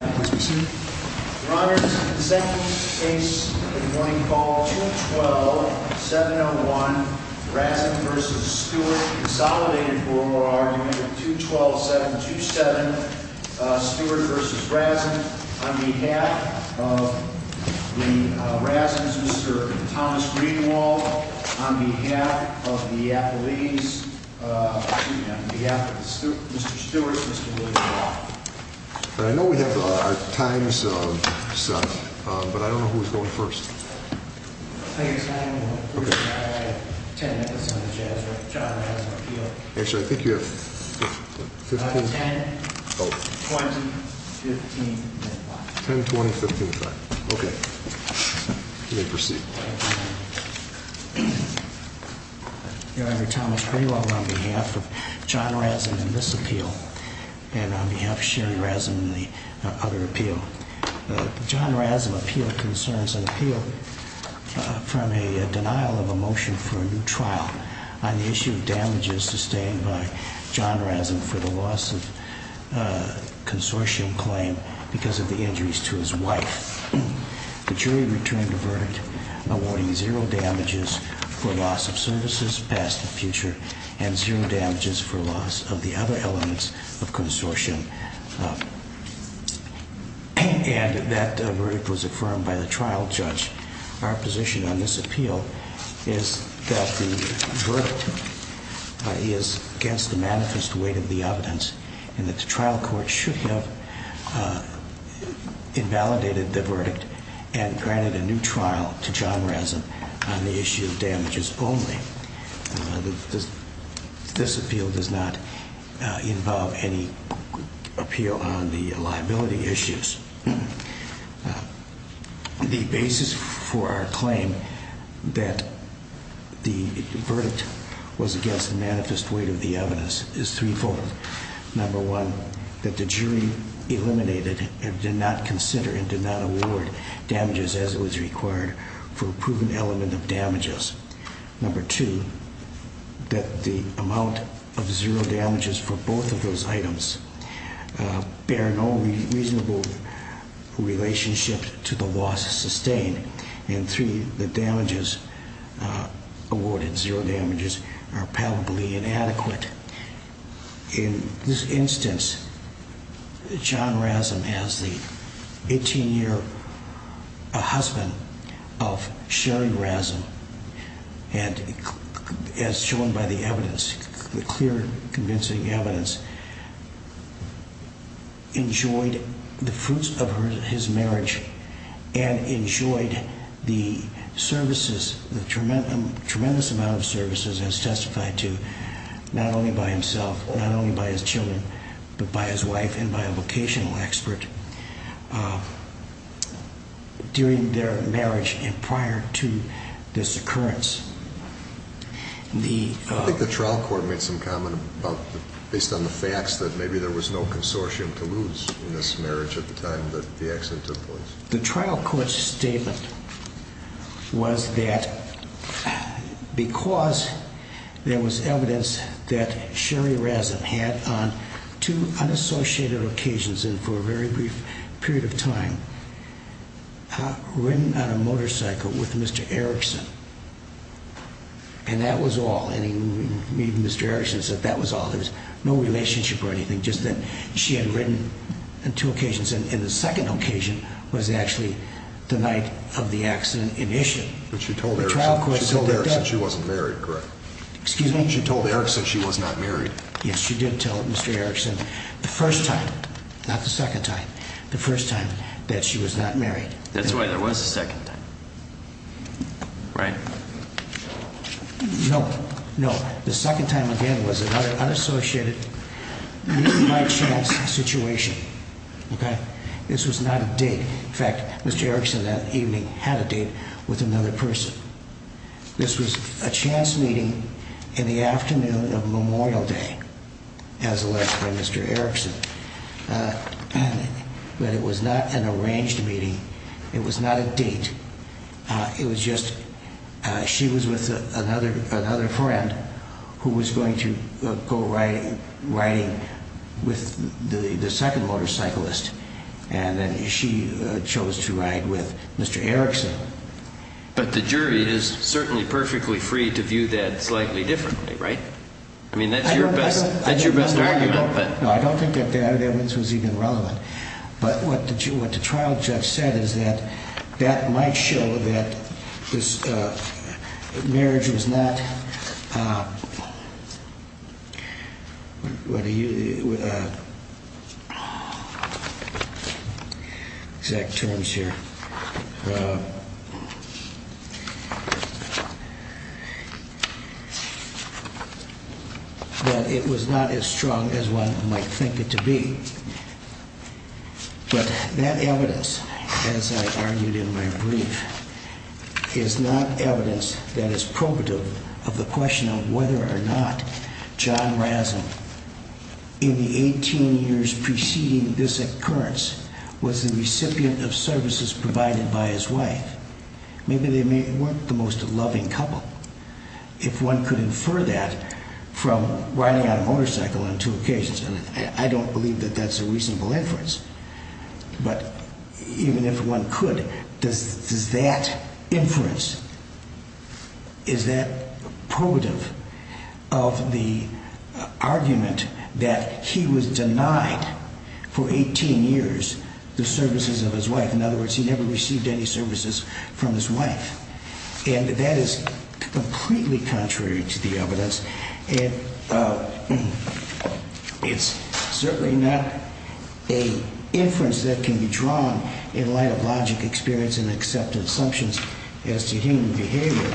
Your Honor, this is the second case of the morning called 212-701, Razin v. Stewart, consolidated for our argument of 212-727, Stewart v. Razin, on behalf of the Razins, Mr. Thomas Greenwald, on behalf of the Appellees, excuse me, on behalf of Mr. Stewart and Mr. Thomas Greenwald. I know we have our times set, but I don't know who's going first. I think it's 9-1-1. First, I have 10 minutes on the charge of John Razin's appeal. Actually, I think you have 15? 10, 20, 15 and 5. 10, 20, 15 and 5. Okay. You may proceed. Thank you, Your Honor. Mr. Thomas Greenwald on behalf of John Razin in this appeal and on behalf of Sherry Razin in the other appeal. The John Razin appeal concerns an appeal from a denial of a motion for a new trial on the issue of damages sustained by John Razin for the loss of consortium claim because of the injuries to his wife. The jury returned a verdict awarding zero damages for loss of services past and future and zero damages for loss of the other elements of consortium. And that verdict was affirmed by the trial judge. Our position on this appeal is that the verdict is against the manifest weight of the evidence and that the trial court should have invalidated the verdict and granted a new trial to John Razin on the issue of damages only. This appeal does not involve any appeal on the liability issues. The basis for our claim that the verdict was against the manifest weight of the evidence is threefold. Number one, that the jury eliminated and did not consider and did not award damages as it was required for a proven element of damages. Number two, that the amount of zero damages for both of those items bear no reasonable relationship to the loss sustained. And three, the damages awarded, zero damages, are probably inadequate. In this instance, John Razin has the 18-year husband of Sherry Razin and as shown by the evidence, the clear convincing evidence, enjoyed the fruits of his marriage and enjoyed the services, the tremendous amount of services as testified to not only by himself, not only by his children, but by his wife and by a vocational expert during their marriage and prior to this occurrence. I think the trial court made some comment based on the facts that maybe there was no consortium to lose in this marriage at the time that the accident took place. The trial court's statement was that because there was evidence that Sherry Razin had on two And that was all. Even Mr. Erickson said that was all. There was no relationship or anything. She had written on two occasions and the second occasion was actually the night of the accident in issue. But she told Erickson she wasn't married, correct? Excuse me? She told Erickson she was not married. Yes, she did tell Mr. Erickson the first time, not the second time, the first time that she was not married. That's right, there was a second time. Right. No, no. The second time, again, was an unassociated meeting by chance situation. Okay? This was not a date. In fact, Mr. Erickson that evening had a date with another person. This was a chance meeting in the afternoon of Memorial Day, as alleged by Mr. Erickson. But it was not an arranged meeting. It was not a date. It was just she was with another friend who was going to go riding with the second motorcyclist. And then she chose to ride with Mr. Erickson. But the jury is certainly perfectly free to view that slightly differently, right? I mean, that's your best argument. No, I don't think that evidence was even relevant. But what the trial judge said is that that might show that this marriage was not, exact terms here, that it was not as strong as one might think it to be. But that evidence, as I argued in my brief, is not evidence that is probative of the question of whether or not John Rasm in the 18 years preceding this occurrence was the recipient of services provided by his wife. Maybe they weren't the most loving couple. If one could infer that from riding on a motorcycle on two occasions, I don't believe that that's a reasonable inference. But even if one could, does that inference, is that probative of the argument that he was denied for 18 years the services of his wife? In other words, he never received any services from his wife. And that is completely contrary to the evidence. It's certainly not an inference that can be drawn in light of logic, experience, and accepted assumptions as to human behavior.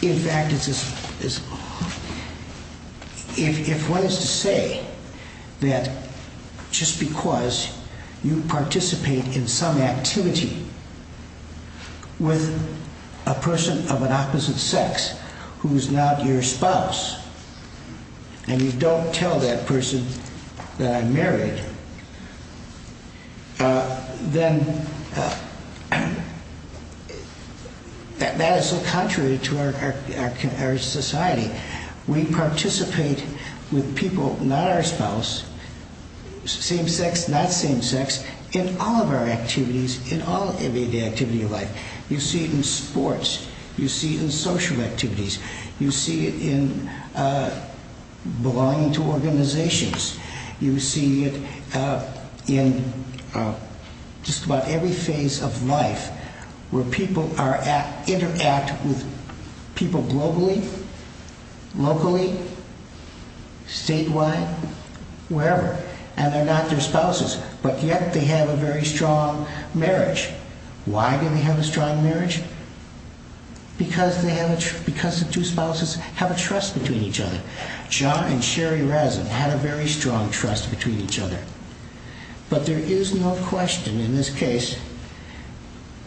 In fact, if one is to say that just because you participate in some activity with a person of an opposite sex who is not your spouse, and you don't tell that person that I'm married, then that is so contrary to our society. We participate with people not our spouse, same sex, not same sex, in all of our activities, in every activity of life. You see it in sports. You see it in social activities. You see it in belonging to organizations. You see it in just about every phase of life where people interact with people globally, locally, statewide, wherever, and they're not their spouses, but yet they have a very strong marriage. Why do they have a strong marriage? Because the two spouses have a trust between each other. John and Sherry Razin had a very strong trust between each other. But there is no question in this case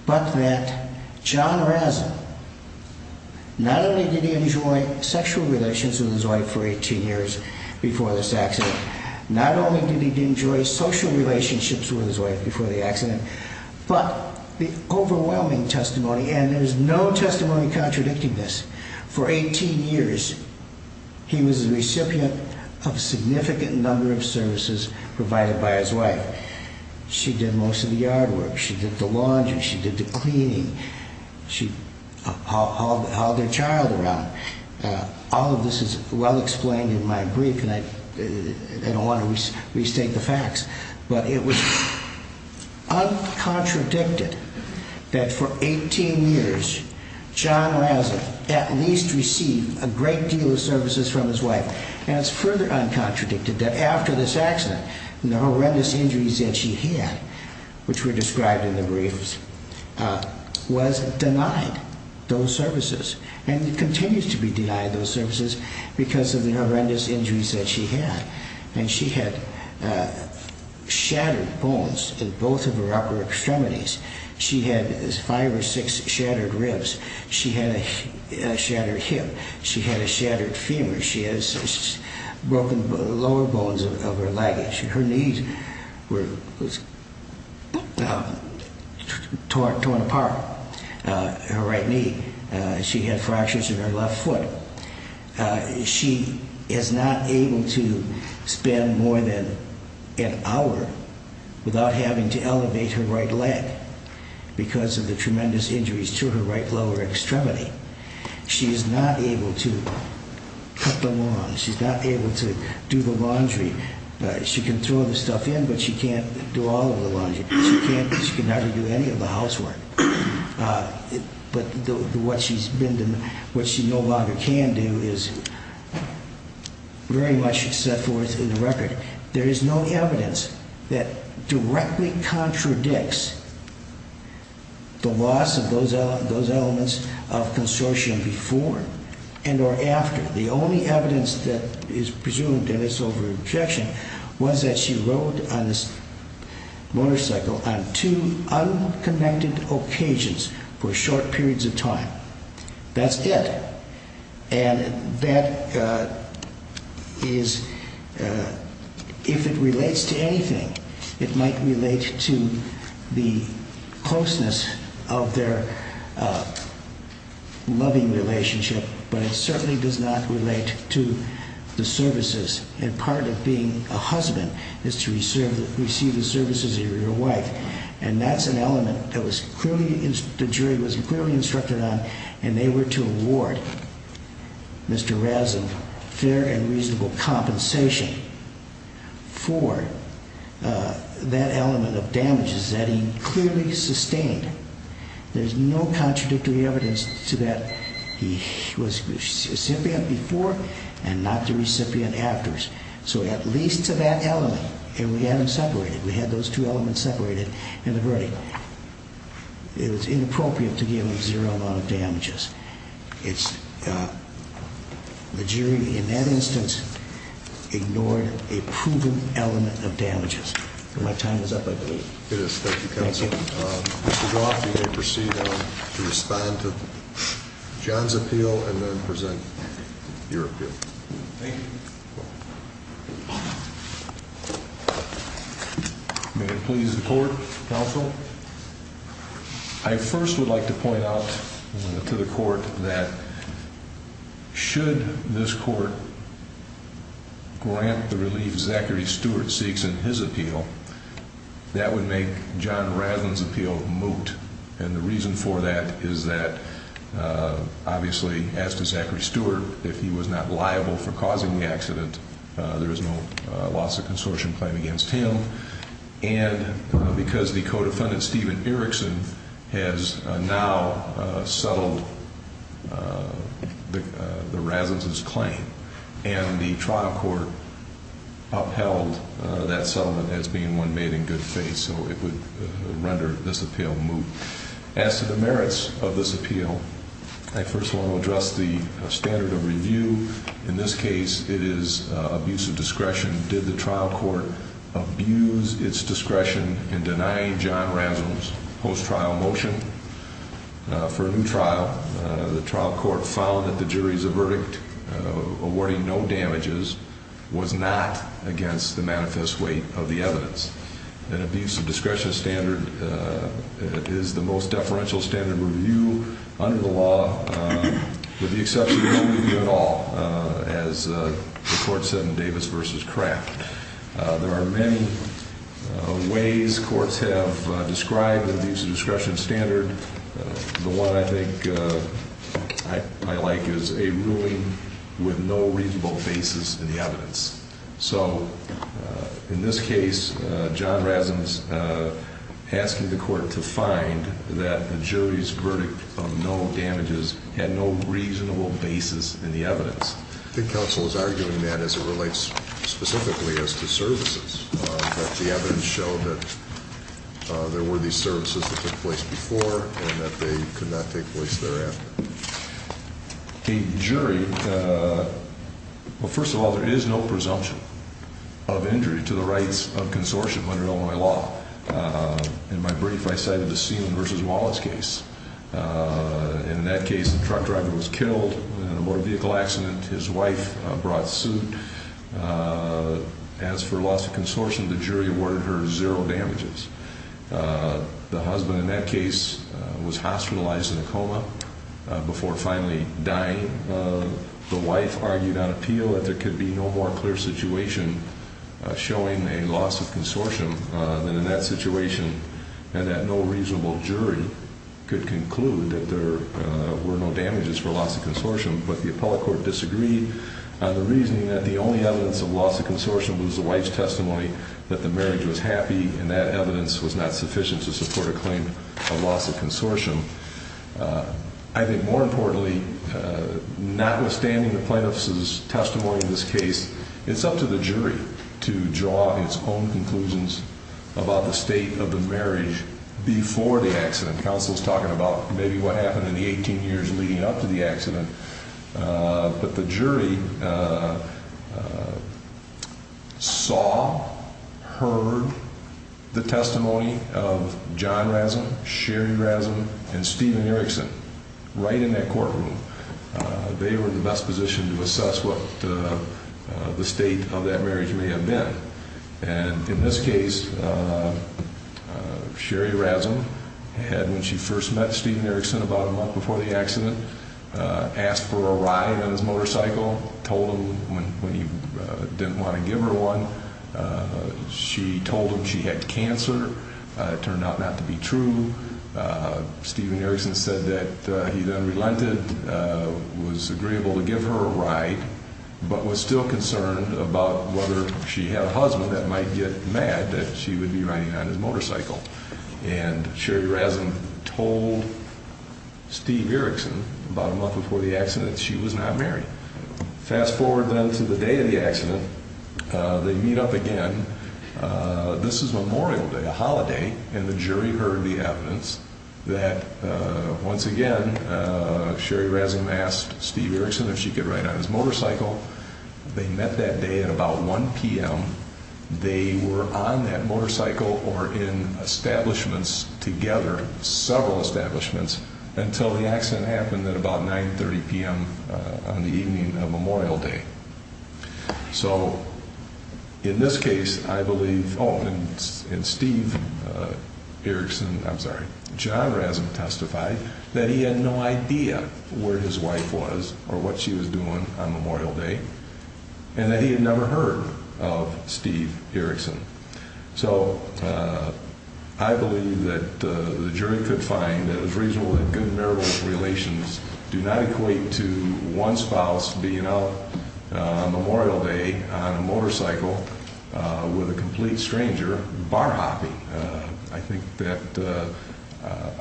but that John Razin, not only did he enjoy sexual relations with his wife for 18 years before this accident, not only did he enjoy social relationships with his wife before the accident, but the overwhelming testimony, and there's no testimony contradicting this, for 18 years he was a recipient of a significant number of services provided by his wife. She did most of the yard work. She did the laundry. She did the cleaning. She hauled their child around. All of this is well explained in my brief, and I don't want to restate the facts, but it was uncontradicted that for 18 years, John Razin at least received a great deal of services from his wife. And it's further uncontradicted that after this accident, the horrendous injuries that she had, which were described in the briefs, was denied those services, and continues to be denied those services because of the horrendous injuries that she had. And she had shattered bones in both of her upper extremities. She had five or six shattered ribs. She had a shattered hip. She had a shattered femur. She had broken lower bones of her leg. Her knee was torn apart, her right knee. She had fractures in her left foot. She is not able to spend more than an hour without having to elevate her right leg because of the tremendous injuries to her right lower extremity. She is not able to cut the lawn. She's not able to do the laundry. She can throw the stuff in, but she can't do all of the laundry. She can never do any of the housework. But what she no longer can do is very much set forth in the record. There is no evidence that directly contradicts the loss of those elements of consortium before and or after. The only evidence that is presumed in this over-rejection was that she rode on this motorcycle on two unconnected occasions for short periods of time. That's it. And that is, if it relates to anything, it might relate to the closeness of their loving relationship, but it certainly does not relate to the services and part of being a husband is to receive the services of your wife. And that's an element that the jury was clearly instructed on, and they were to award Mr. Raz of fair and reasonable compensation for that element of damages that he clearly sustained. There's no contradictory evidence to that. He was recipient before and not the recipient after. So at least to that element, and we had them separated. We had those two elements separated in the verdict. It was inappropriate to give him zero amount of damages. The jury in that instance ignored a proven element of damages. My time is up, I believe. It is. Thank you, Counsel. Mr. Goff, you may proceed to respond to John's appeal and then present your appeal. Thank you. May it please the Court, Counsel. I first would like to point out to the Court that should this Court grant the relief that Mr. Zachary Stewart seeks in his appeal, that would make John Rasmussen's appeal moot. And the reason for that is that, obviously, as to Zachary Stewart, if he was not liable for causing the accident, there is no loss of consortium claim against him. And because the co-defendant, Stephen Erickson, has now settled the Rasmussen's claim and the trial court upheld that settlement as being one made in good faith, so it would render this appeal moot. As to the merits of this appeal, I first want to address the standard of review. In this case, it is abuse of discretion. Did the trial court abuse its discretion in denying John Rasmussen's post-trial motion for a new trial? The trial court found that the jury's verdict, awarding no damages, was not against the manifest weight of the evidence. An abuse of discretion standard is the most deferential standard review under the law, with the exception of no review at all, as the Court said in Davis v. Kraft. There are many ways courts have described an abuse of discretion standard. The one I think I like is a ruling with no reasonable basis in the evidence. So in this case, John Rasmussen's asking the Court to find that the jury's verdict of no damages had no reasonable basis in the evidence. I think counsel is arguing that as it relates specifically as to services, that the evidence showed that there were these services that took place before and that they could not take place thereafter. The jury, well, first of all, there is no presumption of injury to the rights of consortium under Illinois law. In my brief, I cited the Seelan v. Wallace case. In that case, the truck driver was killed in a motor vehicle accident. His wife brought suit. As for loss of consortium, the jury awarded her zero damages. The husband in that case was hospitalized in a coma before finally dying. The wife argued on appeal that there could be no more clear situation showing a loss of consortium than in that situation and that no reasonable jury could conclude that there were no damages for loss of consortium. But the appellate court disagreed on the reasoning that the only evidence of loss of consortium was the wife's testimony that the marriage was happy and that evidence was not sufficient to support a claim of loss of consortium. I think more importantly, notwithstanding the plaintiff's testimony in this case, it's up to the jury to draw its own conclusions about the state of the marriage before the accident. The counsel is talking about maybe what happened in the 18 years leading up to the accident, but the jury saw, heard the testimony of John Razum, Sherry Razum, and Stephen Erickson right in that courtroom. They were in the best position to assess what the state of that marriage may have been. And in this case, Sherry Razum had, when she first met Stephen Erickson about a month before the accident, asked for a ride on his motorcycle, told him when he didn't want to give her one. She told him she had cancer. It turned out not to be true. Stephen Erickson said that he then relented, was agreeable to give her a ride, but was still concerned about whether she had a husband that might get mad that she would be riding on his motorcycle. And Sherry Razum told Stephen Erickson about a month before the accident that she was not married. Fast forward then to the day of the accident. They meet up again. This is Memorial Day, a holiday, and the jury heard the evidence that, once again, Sherry Razum asked Stephen Erickson if she could ride on his motorcycle. They met that day at about 1 p.m. They were on that motorcycle or in establishments together, several establishments, until the accident happened at about 9.30 p.m. on the evening of Memorial Day. So in this case, I believe, oh, and Steve Erickson, I'm sorry, John Razum testified that he had no idea where his wife was or what she was doing on Memorial Day and that he had never heard of Steve Erickson. So I believe that the jury could find that it was reasonable that good marital relations do not equate to one spouse being out on Memorial Day on a motorcycle with a complete stranger bar hopping. I think that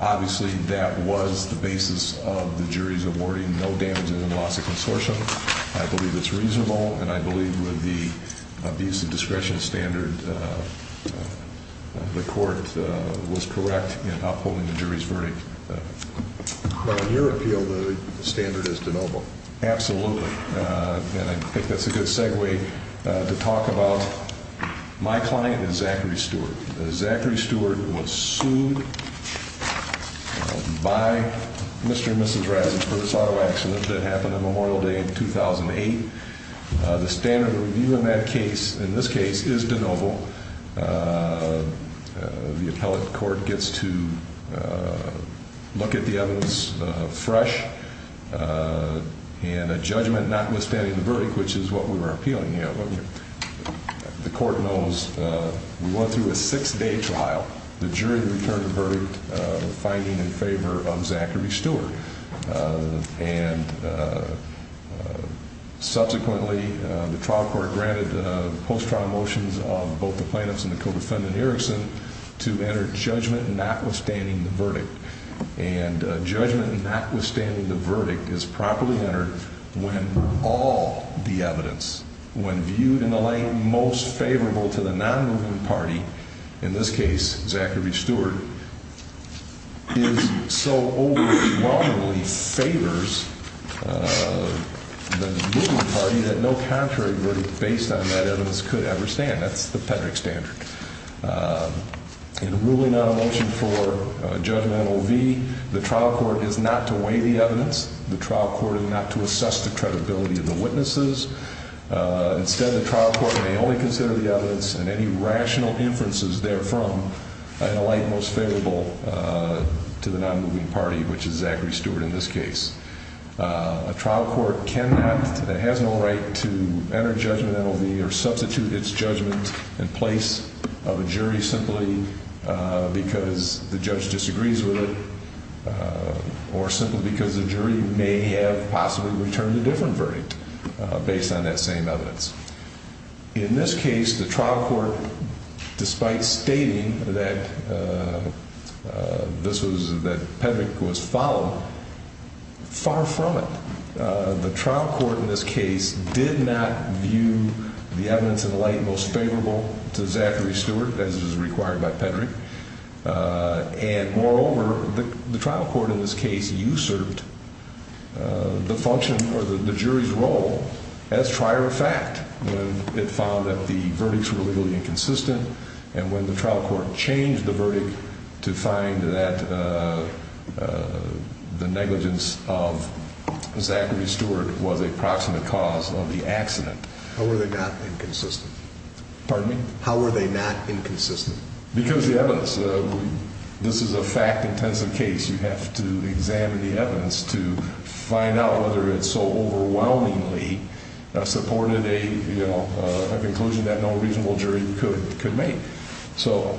obviously that was the basis of the jury's awarding no damages and loss of consortium. I believe it's reasonable, and I believe with the abuse of discretion standard, the court was correct in upholding the jury's verdict. Well, in your appeal, the standard is de novo. Absolutely, and I think that's a good segue to talk about my client, Zachary Stewart. Zachary Stewart was sued by Mr. and Mrs. Razum for this auto accident that happened on Memorial Day in 2008. The standard review in that case, in this case, is de novo. The appellate court gets to look at the evidence fresh and a judgment notwithstanding the verdict, which is what we were appealing here. The court knows we went through a six-day trial. The jury returned the verdict finding in favor of Zachary Stewart. And subsequently, the trial court granted post-trial motions of both the plaintiffs and the co-defendant Erickson to enter judgment notwithstanding the verdict. And judgment notwithstanding the verdict is properly entered when all the evidence, when viewed in the light most favorable to the non-moving party, in this case, Zachary Stewart, is so overwhelmingly favors the moving party that no contrary verdict based on that evidence could ever stand. That's the Pedrick standard. In ruling on a motion for judgmental V, the trial court is not to weigh the evidence. The trial court is not to assess the credibility of the witnesses. Instead, the trial court may only consider the evidence and any rational inferences therefrom in the light most favorable to the non-moving party, which is Zachary Stewart in this case. A trial court cannot, has no right to enter judgmental V or substitute its judgment in place of a jury simply because the judge disagrees with it or simply because the jury may have possibly returned a different verdict based on that same evidence. In this case, the trial court, despite stating that this was, that Pedrick was followed, far from it. The trial court in this case did not view the evidence in the light most favorable to Zachary Stewart as is required by Pedrick. And moreover, the trial court in this case usurped the function or the jury's role as prior effect when it found that the verdicts were legally inconsistent and when the trial court changed the verdict to find that the negligence of Zachary Stewart was a proximate cause of the accident. How were they not inconsistent? Pardon me? How were they not inconsistent? Because the evidence, this is a fact-intensive case. You have to examine the evidence to find out whether it so overwhelmingly supported a conclusion that no reasonable jury could make. So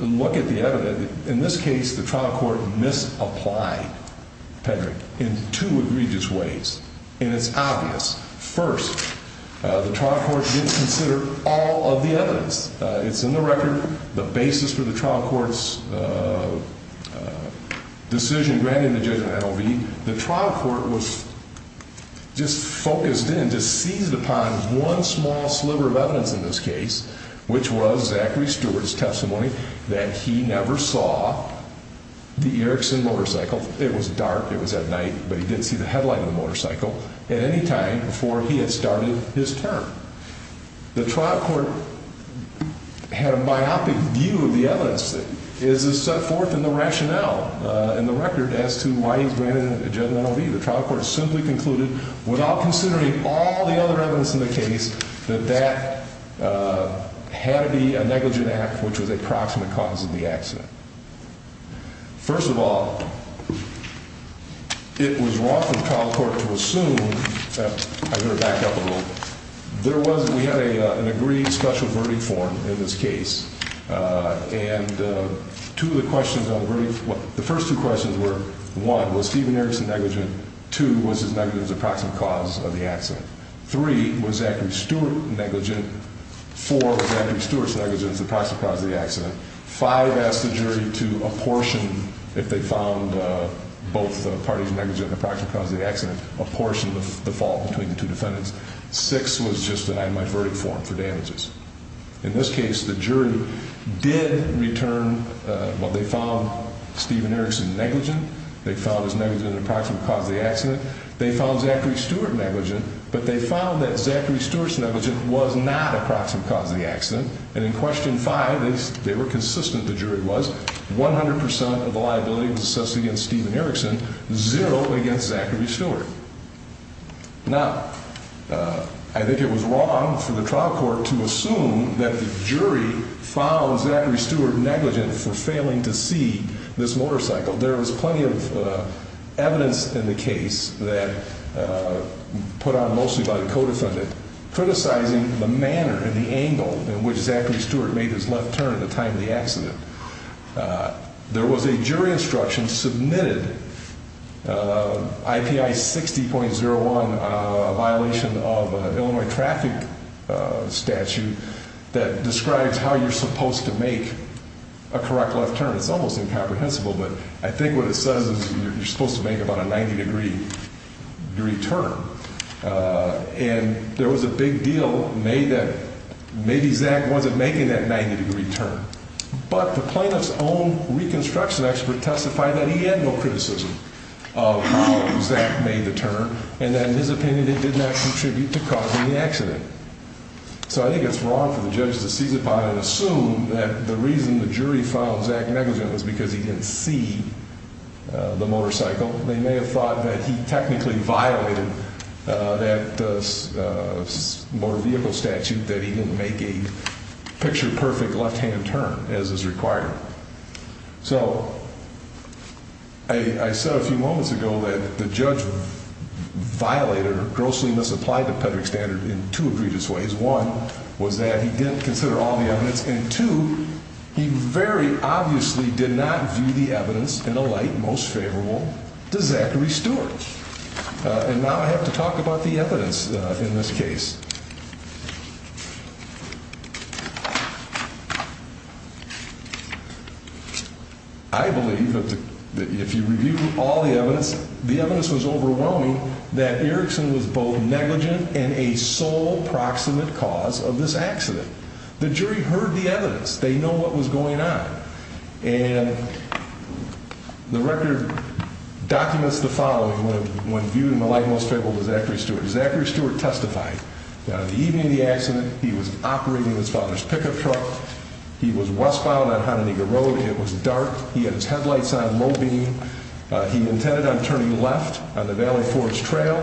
look at the evidence. In this case, the trial court misapplied Pedrick in two egregious ways, and it's obvious. First, the trial court didn't consider all of the evidence. It's in the record. The basis for the trial court's decision granting the judge an NOV. The trial court was just focused in, just seized upon one small sliver of evidence in this case, which was Zachary Stewart's testimony that he never saw the Erickson motorcycle. It was dark. It was at night, but he didn't see the headlight of the motorcycle at any time before he had started his term. The trial court had a myopic view of the evidence that is set forth in the rationale in the record as to why he's granted an adjudicative NOV. The trial court simply concluded, without considering all the other evidence in the case, that that had to be a negligent act, which was a proximate cause of the accident. First of all, it was wrong for the trial court to assume that, I'm going to back up a little bit, there was, we had an agreed special verdict form in this case, and two of the questions on the verdict, the first two questions were, one, was Stephen Erickson negligent? Two, was his negligence a proximate cause of the accident? Three, was Zachary Stewart negligent? Four, was Zachary Stewart's negligence a proximate cause of the accident? Five, asked the jury to apportion, if they found both parties negligent and a proximate cause of the accident, apportion the fault between the two defendants. Six was just that I had my verdict form for damages. In this case, the jury did return, well, they found Stephen Erickson negligent, they found his negligence a proximate cause of the accident, they found Zachary Stewart negligent, but they found that Zachary Stewart's negligence was not a proximate cause of the accident, and in question five, they were consistent, the jury was, 100% of the liability was assessed against Stephen Erickson, zero against Zachary Stewart. Now, I think it was wrong for the trial court to assume that the jury found Zachary Stewart negligent for failing to see this motorcycle. There was plenty of evidence in the case that, put on mostly by the co-defendant, criticizing the manner and the angle in which Zachary Stewart made his left turn at the time of the accident. There was a jury instruction submitted, IPI 60.01, a violation of Illinois traffic statute, that describes how you're supposed to make a correct left turn. It's almost incomprehensible, but I think what it says is you're supposed to make about a 90 degree turn, and there was a big deal made that maybe Zach wasn't making that 90 degree turn, but the plaintiff's own reconstruction expert testified that he had no criticism of how Zach made the turn, and that, in his opinion, it did not contribute to causing the accident. So I think it's wrong for the judge to seize upon and assume that the reason the jury found Zach negligent was because he didn't see the motorcycle. They may have thought that he technically violated that motor vehicle statute, that he didn't make a picture-perfect left-hand turn, as is required. So I said a few moments ago that the judge violated or grossly misapplied the PEDRAC standard in two egregious ways. One was that he didn't consider all the evidence, and two, he very obviously did not view the evidence in a light most favorable to Zachary Stewart. And now I have to talk about the evidence in this case. I believe that if you review all the evidence, the evidence was overwhelming, that Erickson was both negligent and a sole proximate cause of this accident. The jury heard the evidence. They know what was going on. And the record documents the following when viewed in the light most favorable to Zachary Stewart. Zachary Stewart testified that on the evening of the accident, he was operating his father's pickup truck. He was westbound on Hononegah Road. It was dark. He had his headlights on low beam. He intended on turning left on the Valley Forge Trail.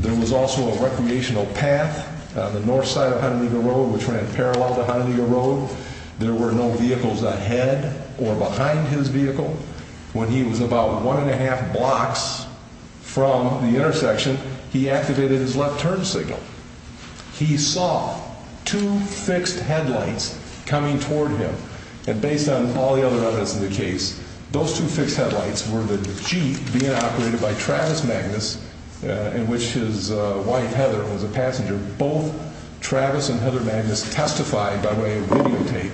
There was also a recreational path on the north side of Hononegah Road, which ran parallel to Hononegah Road. There were no vehicles ahead or behind his vehicle. When he was about one and a half blocks from the intersection, he activated his left turn signal. He saw two fixed headlights coming toward him. And based on all the other evidence in the case, those two fixed headlights were the Jeep being operated by Travis Magnus, in which his wife, Heather, was a passenger. Both Travis and Heather Magnus testified by way of videotape,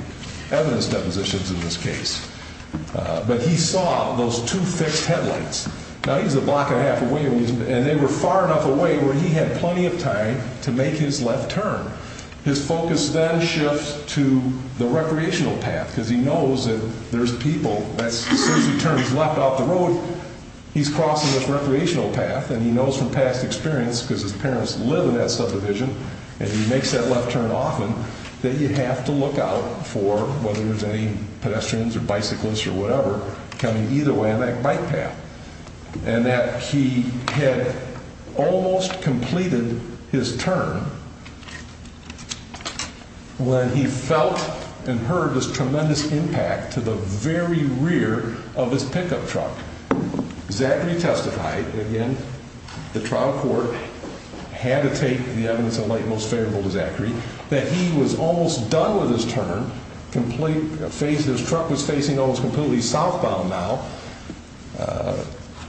evidence depositions in this case. But he saw those two fixed headlights. Now, he was a block and a half away, and they were far enough away where he had plenty of time to make his left turn. His focus then shifts to the recreational path, because he knows that there's people. As soon as he turns left off the road, he's crossing this recreational path. And he knows from past experience, because his parents live in that subdivision, and he makes that left turn often, that you have to look out for, whether there's any pedestrians or bicyclists or whatever, coming either way on that bike path. And that he had almost completed his turn when he felt and heard this tremendous impact to the very rear of his pickup truck. Zachary testified, again, the trial court had to take the evidence of light most favorable to Zachary, that he was almost done with his turn, his truck was facing almost completely southbound now.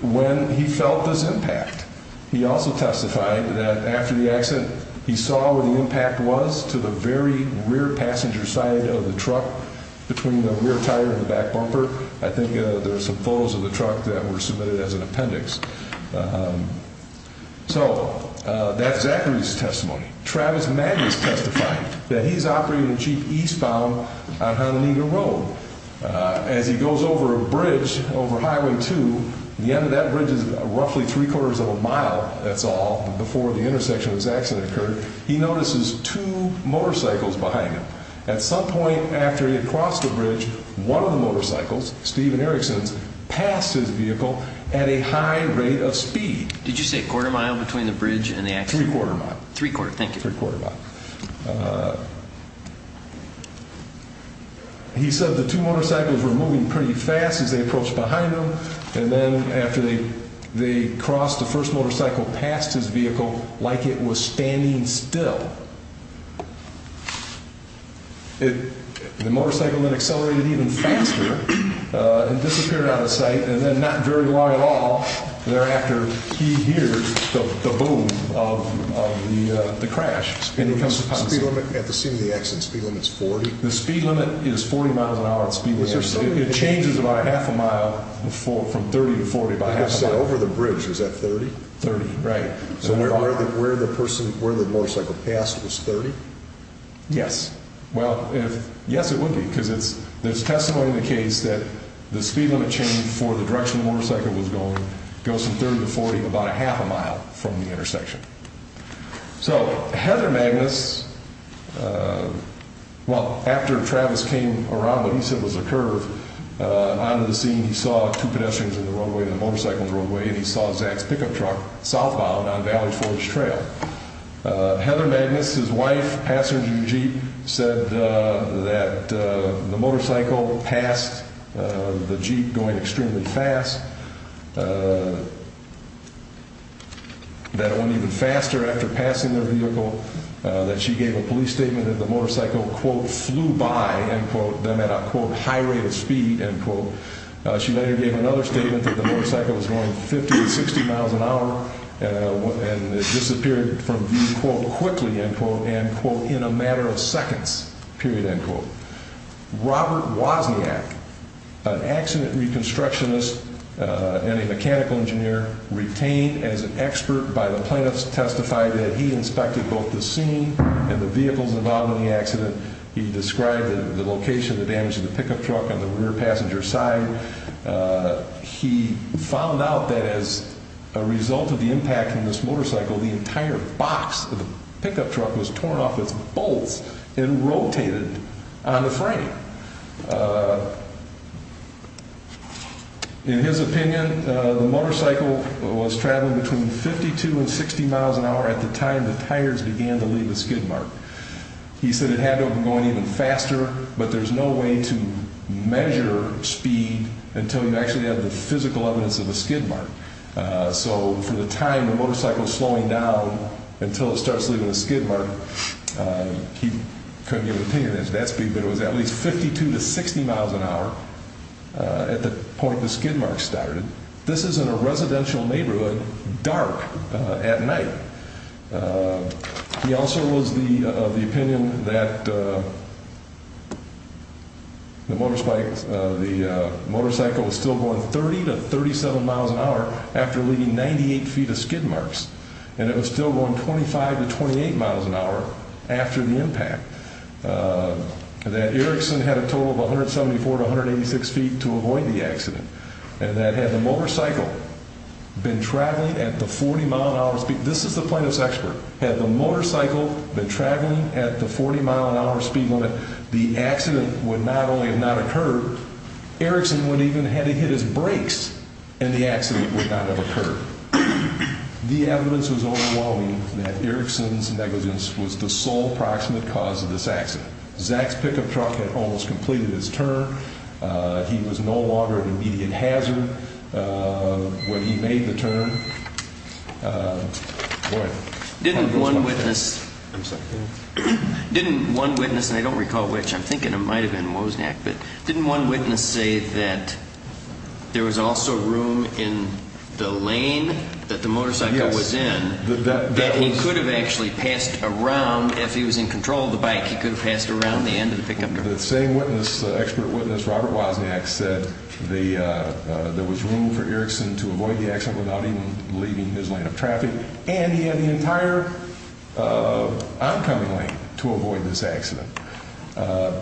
When he felt this impact, he also testified that after the accident, he saw where the impact was to the very rear passenger side of the truck, between the rear tire and the back bumper. I think there are some photos of the truck that were submitted as an appendix. So, that's Zachary's testimony. Travis Magnus testified that he's operating a Jeep eastbound on Hononegah Road. As he goes over a bridge, over Highway 2, the end of that bridge is roughly three-quarters of a mile, that's all, before the intersection of the accident occurred, he notices two motorcycles behind him. At some point after he had crossed the bridge, one of the motorcycles, Stephen Erickson's, passed his vehicle at a high rate of speed. Did you say a quarter mile between the bridge and the accident? Three-quarter mile. Three-quarter, thank you. Three-quarter mile. He said the two motorcycles were moving pretty fast as they approached behind him, and then after they crossed, the first motorcycle passed his vehicle like it was standing still. The motorcycle then accelerated even faster and disappeared out of sight, and then not very long at all thereafter, he hears the boom of the crash. Speed limit at the scene of the accident, speed limit's 40? The speed limit is 40 miles an hour. It changes about a half a mile from 30 to 40, about a half a mile. So, over the bridge, is that 30? 30, right. So, where the person, where the motorcycle passed was 30? Yes. Well, if, yes it would be, because there's testimony in the case that the speed limit change for the direction the motorcycle was going goes from 30 to 40 about a half a mile from the intersection. So, Heather Magnus, well, after Travis came around what he said was a curve, out of the scene he saw two pedestrians in the roadway, the motorcycle in the roadway, and he saw Zach's pickup truck southbound on Valley Forge Trail. Heather Magnus, his wife, passenger of the jeep, said that the motorcycle passed the jeep going extremely fast, that it went even faster after passing their vehicle, that she gave a police statement that the motorcycle, quote, flew by, end quote, them at a, quote, high rate of speed, end quote. She later gave another statement that the motorcycle was going 50 to 60 miles an hour, and it disappeared from view, quote, quickly, end quote, and, quote, in a matter of seconds, period, end quote. Robert Wozniak, an accident reconstructionist and a mechanical engineer retained as an expert by the plaintiffs, testified that he inspected both the scene and the vehicles involved in the accident. He described the location, the damage to the pickup truck on the rear passenger side. He found out that as a result of the impact on this motorcycle, the entire box of the pickup truck was torn off its bolts and rotated on the frame. In his opinion, the motorcycle was traveling between 52 and 60 miles an hour at the time the tires began to leave the skid mark. He said it had to have been going even faster, but there's no way to measure speed until you actually have the physical evidence of a skid mark. So for the time the motorcycle was slowing down until it starts leaving the skid mark, he couldn't give an opinion as to that speed, but it was at least 52 to 60 miles an hour at the point the skid mark started. This is in a residential neighborhood, dark at night. He also was of the opinion that the motorcycle was still going 30 to 37 miles an hour after leaving 98 feet of skid marks, and it was still going 25 to 28 miles an hour after the impact, that Erickson had a total of 174 to 186 feet to avoid the accident, and that had the motorcycle been traveling at the 40-mile-an-hour speed limit, this is the plaintiff's expert, had the motorcycle been traveling at the 40-mile-an-hour speed limit, the accident would not only have not occurred, Erickson would even have had to hit his brakes and the accident would not have occurred. The evidence was overwhelming that Erickson's negligence was the sole proximate cause of this accident. Zach's pickup truck had almost completed its turn. He was no longer an immediate hazard when he made the turn. Boy. Didn't one witness, and I don't recall which, I'm thinking it might have been Wozniak, but didn't one witness say that there was also room in the lane that the motorcycle was in that he could have actually passed around, if he was in control of the bike, he could have passed around the end of the pickup truck? The same expert witness, Robert Wozniak, said there was room for Erickson to avoid the accident without even leaving his lane of traffic, and he had the entire oncoming lane to avoid this accident.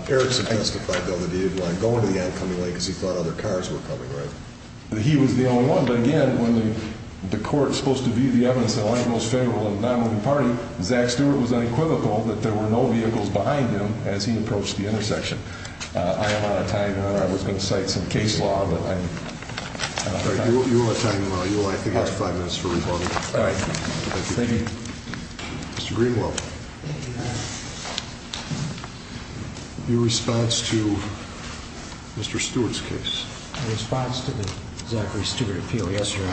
Erickson testified, though, that he didn't want to go into the oncoming lane because he thought other cars were coming, right? He was the only one. But again, when the court is supposed to view the evidence in the light of most federal and non-member party, Zach Stewart was unequivocal that there were no vehicles behind him as he approached the intersection. I am out of time, Your Honor. I was going to cite some case law, but I'm out of time. You're out of time, Your Honor. I think you have five minutes for rebuttal. All right. Thank you. Mr. Greenwell. Thank you, Your Honor. Your response to Mr. Stewart's case? My response to the Zachary Stewart appeal? Yes, Your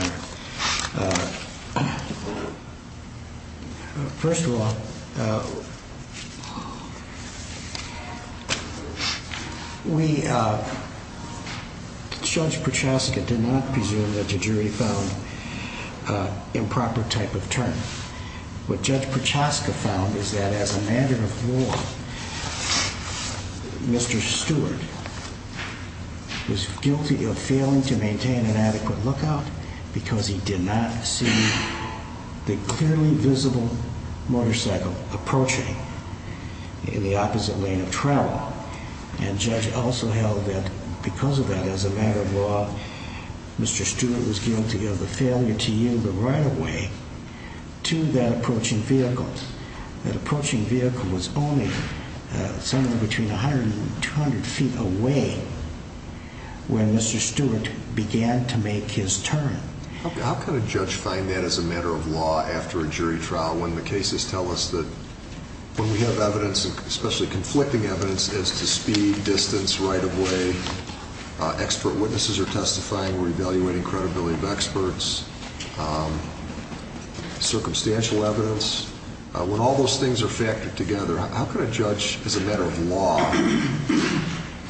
Honor. First of all, Judge Prochaska did not presume that the jury found improper type of turn. What Judge Prochaska found is that as a matter of law, Mr. Stewart was guilty of failing to maintain an adequate lookout because he did not see the clearly visible motorcycle approaching in the opposite lane of travel. And Judge also held that because of that, as a matter of law, Mr. Stewart was guilty of the failure to yield the right-of-way to that approaching vehicle. That approaching vehicle was only somewhere between 100 and 200 feet away when Mr. Stewart began to make his turn. How can a judge find that as a matter of law after a jury trial when the cases tell us that when we have evidence, especially conflicting evidence, as to speed, distance, right-of-way, expert witnesses are testifying, we're evaluating credibility of experts, circumstantial evidence, when all those things are factored together, how can a judge, as a matter of law,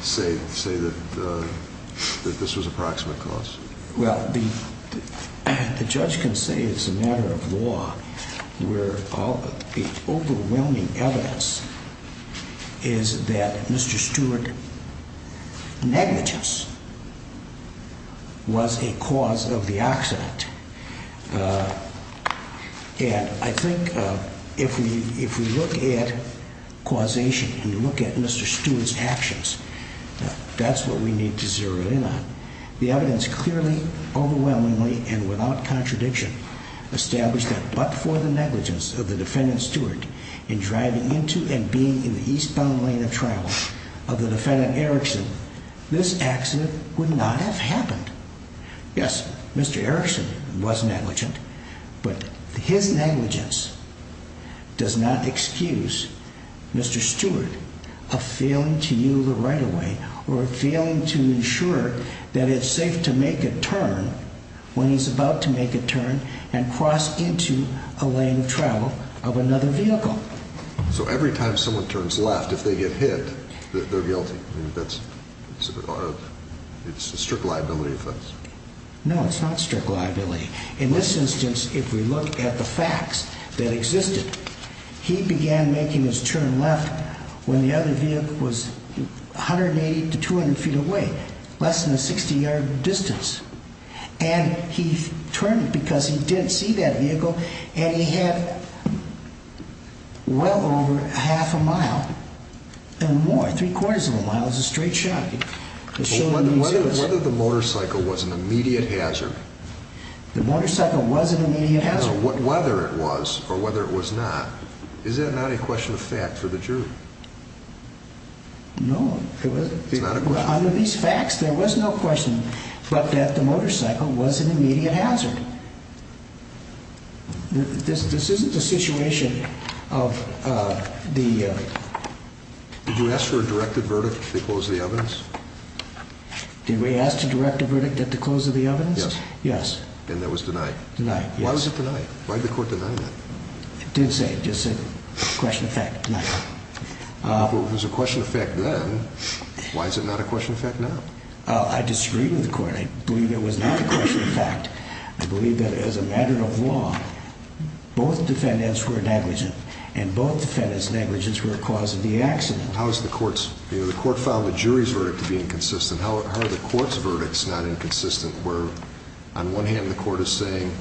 say that this was a proximate cause? Well, the judge can say it's a matter of law where the overwhelming evidence is that Mr. Stewart negligence was a cause of the accident. And I think if we look at causation and you look at Mr. Stewart's actions, that's what we need to zero in on. The evidence clearly, overwhelmingly, and without contradiction established that but for the negligence of the defendant Stewart in driving into and being in the eastbound lane of trial of the defendant Erickson, this accident would not have happened. Yes, Mr. Erickson was negligent, but his negligence does not excuse Mr. Stewart of failing to yield the right-of-way or failing to ensure that it's safe to make a turn when he's about to make a turn and cross into a lane of travel of another vehicle. So every time someone turns left, if they get hit, they're guilty? It's a strict liability offense? No, it's not strict liability. In this instance, if we look at the facts that existed, he began making his turn left when the other vehicle was 180 to 200 feet away, less than a 60-yard distance. And he turned because he didn't see that vehicle and he had well over half a mile and more, three-quarters of a mile. It's a straight shot. Whether the motorcycle was an immediate hazard? The motorcycle was an immediate hazard. No, whether it was or whether it was not, is that not a question of fact for the jury? No. It's not a question? Under these facts, there was no question but that the motorcycle was an immediate hazard. This isn't the situation of the… Did we ask to direct a verdict at the close of the evidence? Yes. Yes. And that was denied? Denied, yes. Why was it denied? Why did the court deny that? It did say it. It just said, question of fact, denied. Well, if it was a question of fact then, why is it not a question of fact now? I disagree with the court. I believe it was not a question of fact. I believe that as a matter of law, both defendants were negligent and both defendants' negligence were a cause of the accident. The court found the jury's verdict to be inconsistent. How are the court's verdicts not inconsistent where, on one hand, the court is saying,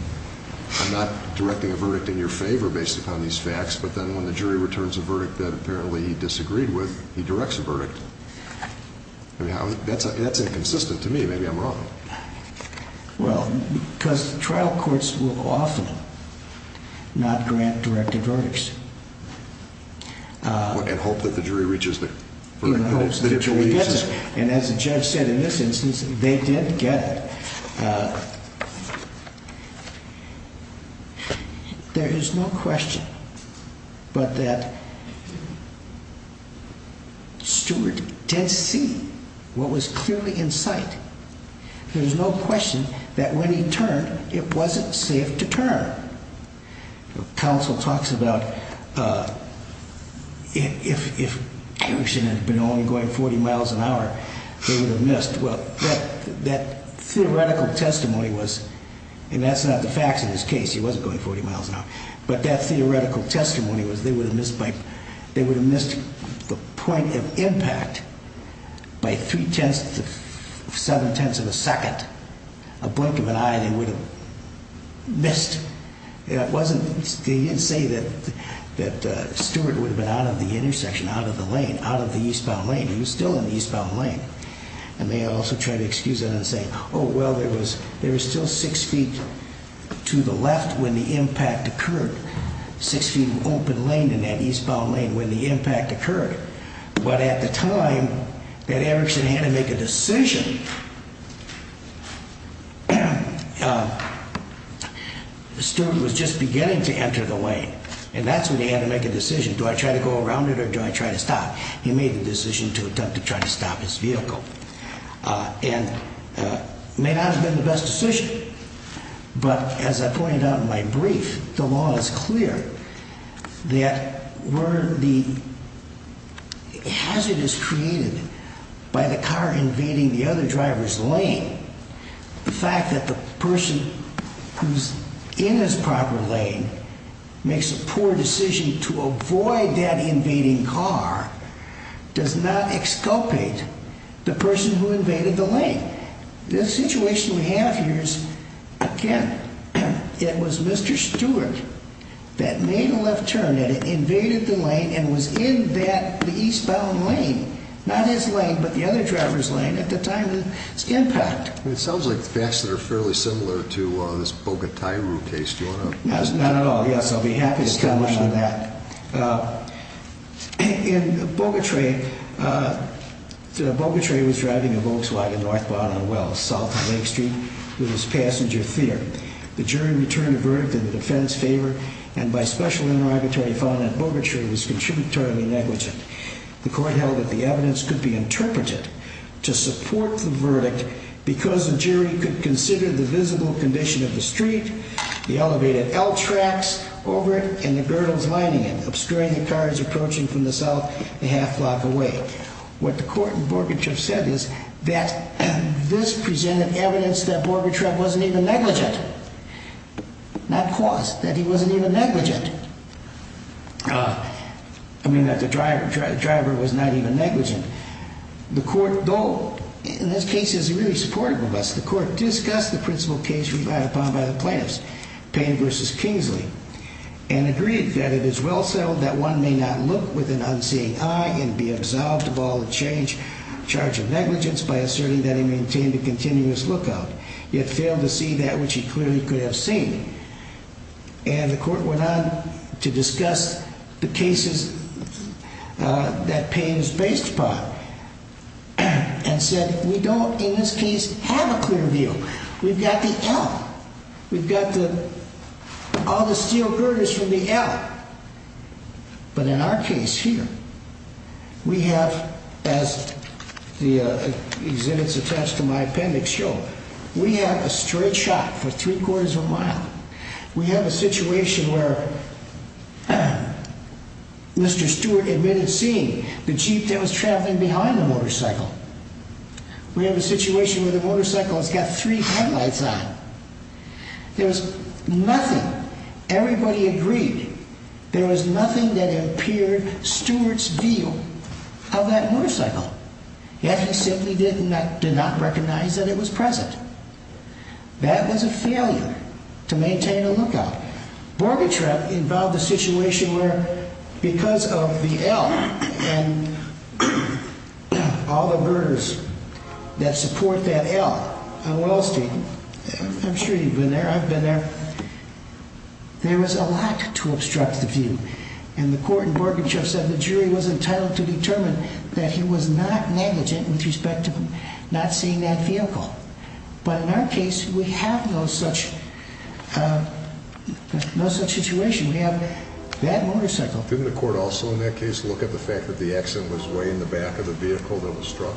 I'm not directing a verdict in your favor based upon these facts, but then when the jury returns a verdict that apparently he disagreed with, he directs a verdict. That's inconsistent to me. Maybe I'm wrong. Well, because trial courts will often not grant directed verdicts. And hope that the jury reaches the verdict. And as the judge said in this instance, they did get it. There is no question but that Stewart did see what was clearly in sight. There's no question that when he turned, it wasn't safe to turn. Counsel talks about if he should have been only going 40 miles an hour, they would have missed. Well, that theoretical testimony was, and that's not the facts of this case. He wasn't going 40 miles an hour. But that theoretical testimony was they would have missed the point of impact by three-tenths, seven-tenths of a second. A blink of an eye, they would have missed. They didn't say that Stewart would have been out of the intersection, out of the lane, out of the eastbound lane. He was still in the eastbound lane. And they also tried to excuse it and say, oh, well, there was still six feet to the left when the impact occurred. Six feet open lane in that eastbound lane when the impact occurred. But at the time that Erickson had to make a decision, Stewart was just beginning to enter the lane. And that's when he had to make a decision. Do I try to go around it or do I try to stop? He made the decision to attempt to try to stop his vehicle. And it may not have been the best decision. But as I pointed out in my brief, the law is clear that where the hazard is created by the car invading the other driver's lane, the fact that the person who's in his proper lane makes a poor decision to avoid that invading car does not exculpate the person who invaded the lane. The situation we have here is, again, it was Mr. Stewart that made a left turn and invaded the lane and was in that eastbound lane. Not his lane, but the other driver's lane at the time of this impact. It sounds like facts that are fairly similar to this Bogotairu case. Do you want to? No, not at all. Yes, I'll be happy to tell you more about that. In Bogotairu, Bogotairu was driving a Volkswagen northbound on Wells, south of Lake Street, with his passenger, Thier. The jury returned a verdict in the defense's favor, and by special interrogatory finding, Bogotairu was contributorily negligent. The court held that the evidence could be interpreted to support the verdict because the jury could consider the visible condition of the street, the elevated L tracks over it, and the girdles lining it, obscuring the cars approaching from the south a half block away. What the court in Bogotairu said is that this presented evidence that Bogotairu wasn't even negligent. Not caused, that he wasn't even negligent. I mean, that the driver was not even negligent. The court, though, in this case, is really supportive of us. The court discussed the principal case relied upon by the plaintiffs, Payne v. Kingsley, and agreed that it is well settled that one may not look with an unseeing eye and be absolved of all the charge of negligence by asserting that he maintained a continuous lookout, yet failed to see that which he clearly could have seen. And the court went on to discuss the cases that Payne was based upon and said, we don't, in this case, have a clear view. We've got the L. We've got all the steel girders from the L. But in our case here, we have, as the exhibits attached to my appendix show, we have a straight shot for three quarters of a mile. We have a situation where Mr. Stewart admitted seeing the Jeep that was traveling behind the motorcycle. We have a situation where the motorcycle has got three headlights on. There's nothing. Everybody agreed there was nothing that impaired Stewart's view of that motorcycle. Yet he simply did not recognize that it was present. That was a failure to maintain a lookout. Borgentreff involved a situation where, because of the L and all the girders that support that L on Wall Street, I'm sure you've been there. I've been there. There was a lot to obstruct the view. And the court in Borgentreff said the jury was entitled to determine that he was not negligent with respect to not seeing that vehicle. But in our case, we have no such situation. We have that motorcycle. Didn't the court also in that case look at the fact that the accident was way in the back of the vehicle that was struck?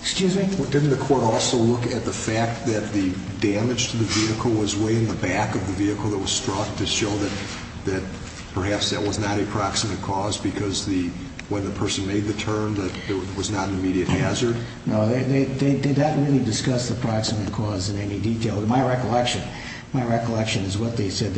Excuse me? Didn't the court also look at the fact that the damage to the vehicle was way in the back of the vehicle that was struck to show that perhaps that was not a proximate cause because when the person made the turn that it was not an immediate hazard? No, they didn't really discuss the proximate cause in any detail. My recollection is what they said.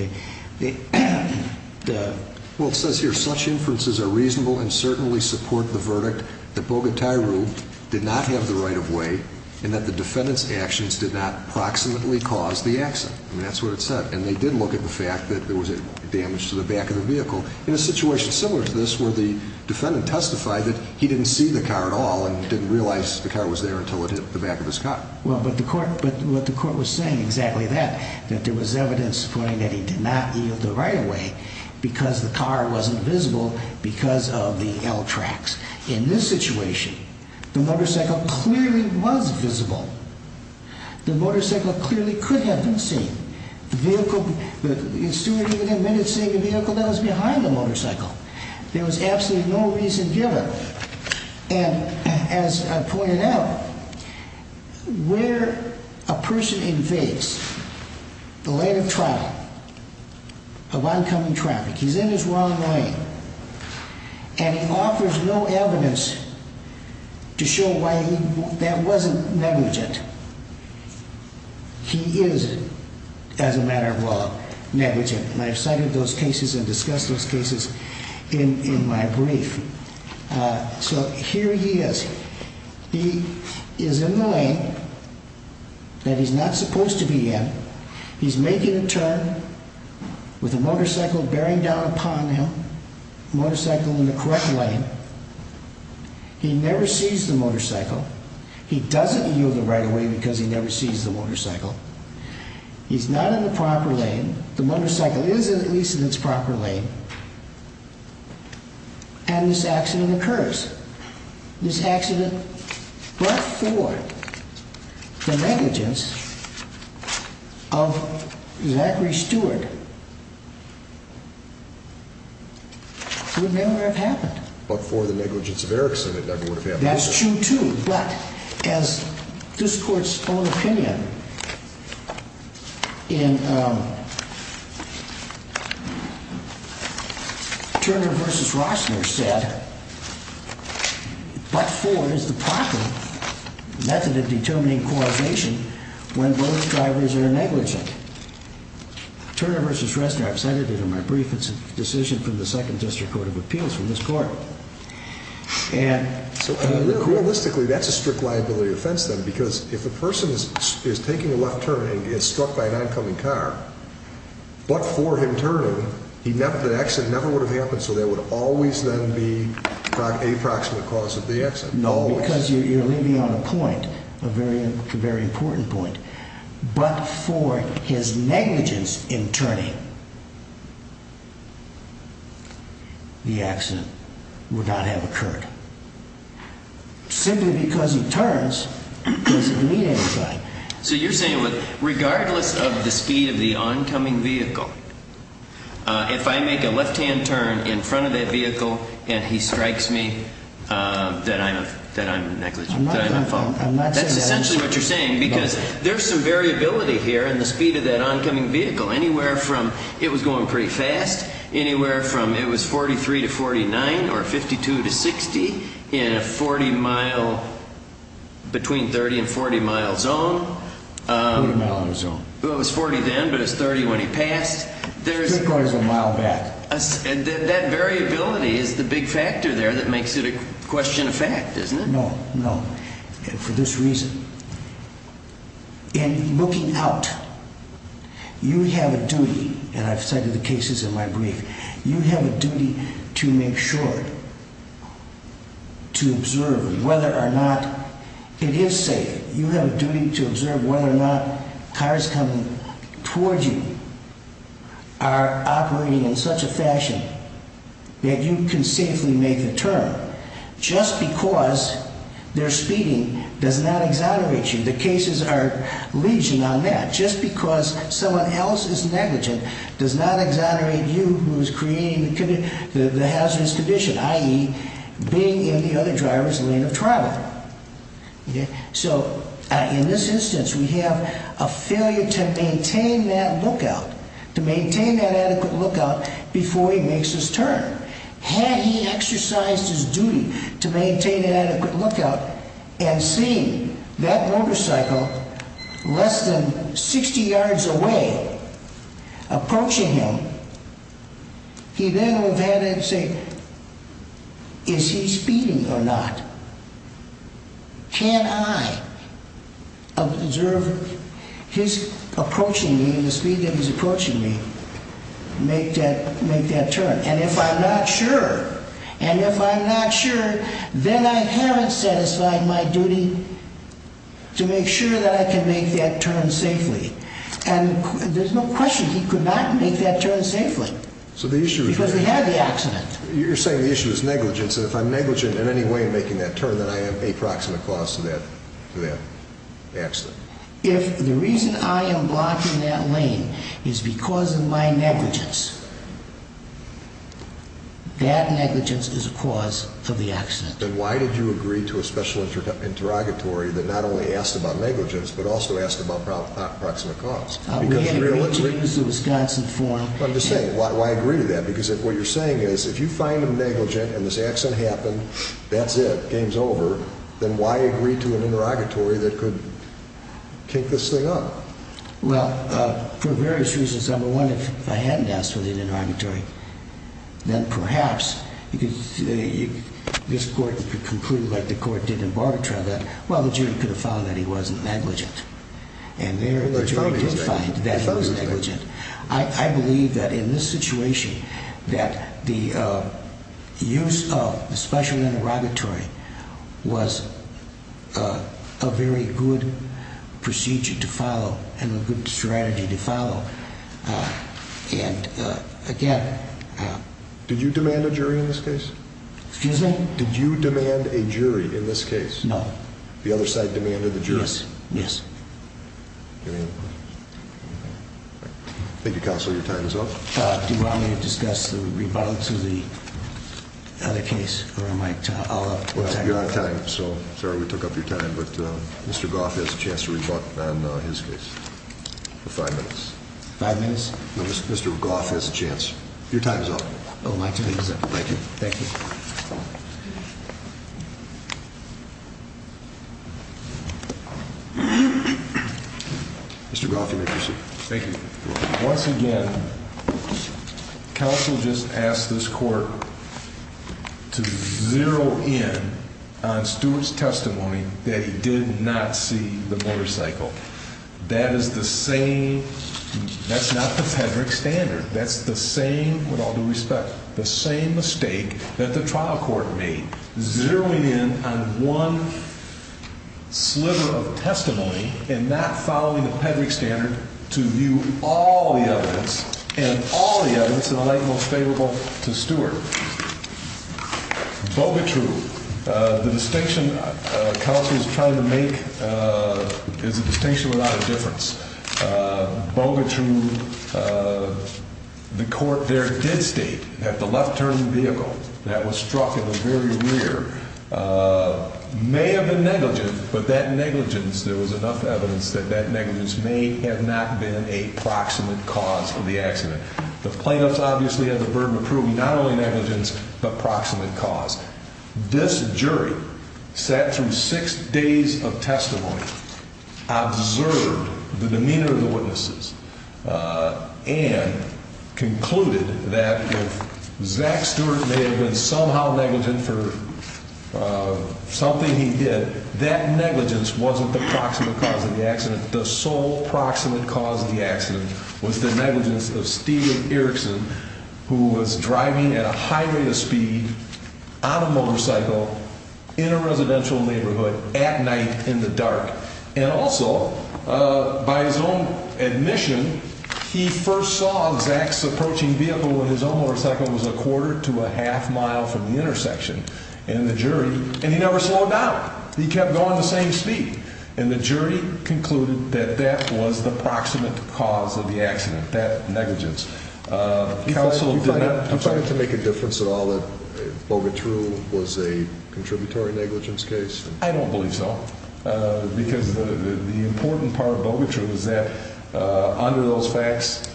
Well, it says here, such inferences are reasonable and certainly support the verdict that Bogotairu did not have the right-of-way and that the defendant's actions did not proximately cause the accident. I mean, that's what it said. And they did look at the fact that there was damage to the back of the vehicle. In a situation similar to this where the defendant testified that he didn't see the car at all and didn't realize the car was there until it hit the back of his car. Well, but the court was saying exactly that, that there was evidence pointing that he did not yield the right-of-way because the car wasn't visible because of the L tracks. In this situation, the motorcycle clearly was visible. The motorcycle clearly could have been seen. The vehicle, the steward even admitted seeing the vehicle that was behind the motorcycle. There was absolutely no reason given. And as I pointed out, where a person invades the lane of travel, of oncoming traffic, he's in his wrong lane. And he offers no evidence to show why he, that wasn't negligent. He is, as a matter of law, negligent. And I've cited those cases and discussed those cases in my brief. So here he is. He is in the lane that he's not supposed to be in. He's making a turn with a motorcycle bearing down upon him, a motorcycle in the correct lane. He never sees the motorcycle. He doesn't yield the right-of-way because he never sees the motorcycle. He's not in the proper lane. The motorcycle is at least in its proper lane. And this accident occurs. This accident, but for the negligence of Zachary Stewart, would never have happened. But for the negligence of Erickson, it never would have happened. That's true, too. But as this Court's own opinion in Turner v. Roessner said, but for is the proper method of determining causation when both drivers are negligent. Turner v. Roessner, I've cited it in my brief, it's a decision from the Second District Court of Appeals, from this Court. Realistically, that's a strict liability offense, then, because if a person is taking a left turn and is struck by an oncoming car, but for him turning, the accident never would have happened, so there would always then be an approximate cause of the accident. No, because you're leaving on a point, a very important point. But for his negligence in turning, the accident would not have occurred. Simply because he turns doesn't mean anything. So you're saying that regardless of the speed of the oncoming vehicle, if I make a left-hand turn in front of that vehicle and he strikes me, that I'm negligent? I'm not saying that. That's essentially what you're saying, because there's some variability here in the speed of that oncoming vehicle. Anywhere from it was going pretty fast, anywhere from it was 43 to 49, or 52 to 60, in a 40-mile, between 30 and 40-mile zone. 40-mile zone. It was 40 then, but it was 30 when he passed. Three-quarters of a mile back. That variability is the big factor there that makes it a question of fact, isn't it? No, no. And for this reason. In looking out, you have a duty, and I've cited the cases in my brief, you have a duty to make sure, to observe whether or not it is safe. You have a duty to observe whether or not cars coming towards you are operating in such a fashion that you can safely make a turn. Just because they're speeding does not exonerate you. The cases are legion on that. Just because someone else is negligent does not exonerate you, who is creating the hazardous condition, i.e., being in the other driver's lane of travel. So, in this instance, we have a failure to maintain that lookout, to maintain that adequate lookout before he makes his turn. Had he exercised his duty to maintain an adequate lookout and seen that motorcycle less than 60 yards away approaching him, he then would have had to say, Is he speeding or not? Can I observe his approaching me, the speed that he's approaching me, make that turn? And if I'm not sure, and if I'm not sure, then I haven't satisfied my duty to make sure that I can make that turn safely. And there's no question he could not make that turn safely. Because he had the accident. You're saying the issue is negligence, and if I'm negligent in any way in making that turn, then I have a proximate cause to that accident. If the reason I am blocking that lane is because of my negligence, that negligence is a cause for the accident. Then why did you agree to a special interrogatory that not only asked about negligence, but also asked about proximate cause? I'm just saying, why agree to that? Because what you're saying is, if you find him negligent and this accident happened, that's it, game's over. Then why agree to an interrogatory that could kink this thing up? Well, for various reasons. Number one, if I hadn't asked for the interrogatory, then perhaps, because this court concluded like the court did in Bartlett trial, that the jury could have found that he wasn't negligent. And there, the jury did find that he was negligent. I believe that in this situation, that the use of a special interrogatory was a very good procedure to follow, and a good strategy to follow. And again... Did you demand a jury in this case? Excuse me? Did you demand a jury in this case? No. The other side demanded the jury? Yes. Thank you, counsel. Your time is up. Do you want me to discuss the rebuttal to the other case, or am I... Well, you're out of time, so sorry we took up your time, but Mr. Goff has a chance to rebutt on his case for five minutes. Five minutes? Mr. Goff has a chance. Your time is up. Oh, my time is up. Thank you. Thank you. Mr. Goff, you may proceed. Thank you. Once again, counsel just asked this court to zero in on Stewart's testimony that he did not see the motorcycle. That is the same... That's not the pederic standard. That's the same, with all due respect, the same mistake that the jury made. That the trial court made, zeroing in on one sliver of testimony and not following the pederic standard to view all the evidence, and all the evidence in the light most favorable to Stewart. Bogutru, the distinction counsel is trying to make is a distinction without a difference. Bogutru, the court there did state that the left turn vehicle that was struck in the very rear may have been negligent, but that negligence, there was enough evidence that that negligence may have not been a proximate cause of the accident. The plaintiffs obviously have the burden of proving not only negligence, but proximate cause. This jury sat through six days of testimony, observed the demeanor of the witnesses, and concluded that if Zach Stewart may have been somehow negligent for something he did, that negligence wasn't the proximate cause of the accident. The sole proximate cause of the accident was the negligence of Steve Erickson, who was driving at a high rate of speed on a motorcycle in a residential neighborhood at night in the dark. And also, by his own admission, he first saw Zach's approaching vehicle when his own motorcycle was a quarter to a half mile from the intersection. And he never slowed down. He kept going the same speed. And the jury concluded that that was the proximate cause of the accident, that negligence. Do you find it to make a difference at all that Bogutru was a contributory negligence case? I don't believe so, because the important part of Bogutru is that under those facts,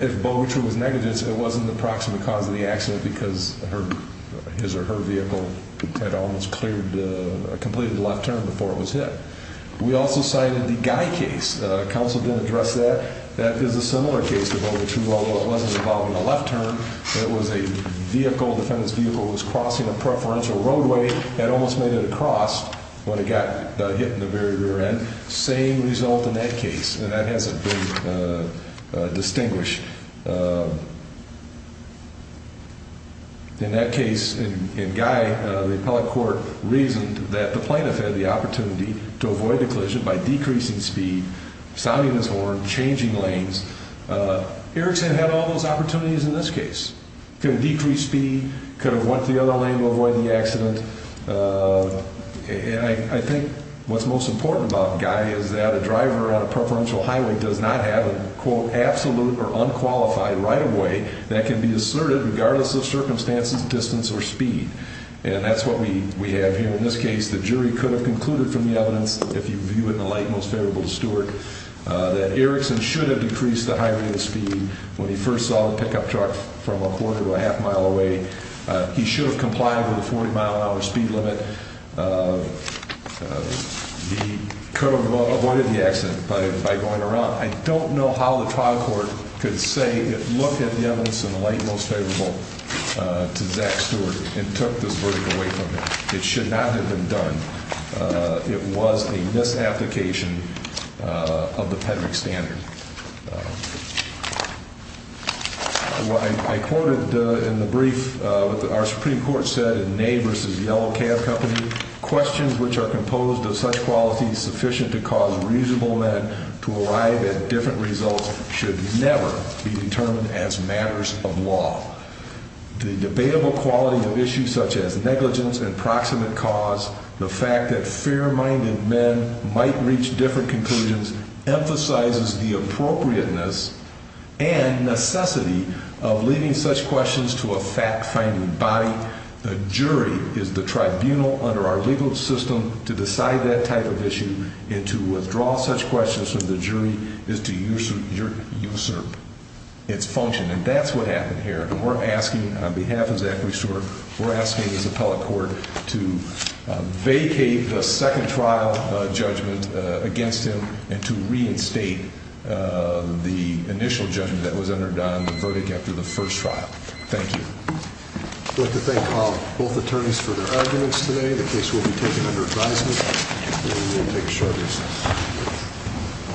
if Bogutru was negligent, it wasn't the proximate cause of the accident, because his or her vehicle had almost completed the left turn before it was hit. We also cited the Guy case. Counsel didn't address that. That is a similar case to Bogutru, although it wasn't involving a left turn. It was a vehicle, a defendant's vehicle was crossing a preferential roadway, had almost made it across when it got hit in the very rear end. Same result in that case, and that hasn't been distinguished. In that case, in Guy, the appellate court reasoned that the plaintiff had the opportunity to avoid the collision by decreasing speed, sounding his horn, changing lanes. Erickson had all those opportunities in this case. Could have decreased speed, could have went to the other lane to avoid the accident. I think what's most important about Guy is that a driver on a preferential highway does not have a quote, absolute or unqualified right-of-way that can be asserted regardless of circumstances, distance, or speed. And that's what we have here in this case. The jury could have concluded from the evidence, if you view it in the light most favorable to Stewart, that Erickson should have decreased the high rate of speed when he first saw the pickup truck from a quarter to a half mile away. He should have complied with the 40-mile-an-hour speed limit. He could have avoided the accident by going around. I don't know how the trial court could say it looked at the evidence in the light most favorable to Zach Stewart and took this verdict away from him. It should not have been done. It was a misapplication of the PEDRIC standard. I quoted in the brief what our Supreme Court said in Ney v. Yellow Cab Company, questions which are composed of such qualities sufficient to cause reasonable men to arrive at different results should never be determined as matters of law. The debatable quality of issues such as negligence and proximate cause, the fact that fair-minded men might reach different conclusions, emphasizes the appropriateness and necessity of leaving such questions to a fact-finding body. The jury is the tribunal under our legal system to decide that type of issue, and to withdraw such questions from the jury is to usurp its function. And that's what happened here. On behalf of Zachary Stewart, we're asking his appellate court to vacate the second trial judgment against him and to reinstate the initial judgment that was entered on the verdict after the first trial. Thank you. I'd like to thank both attorneys for their arguments today. The case will be taken under advisement. We will take a short recess.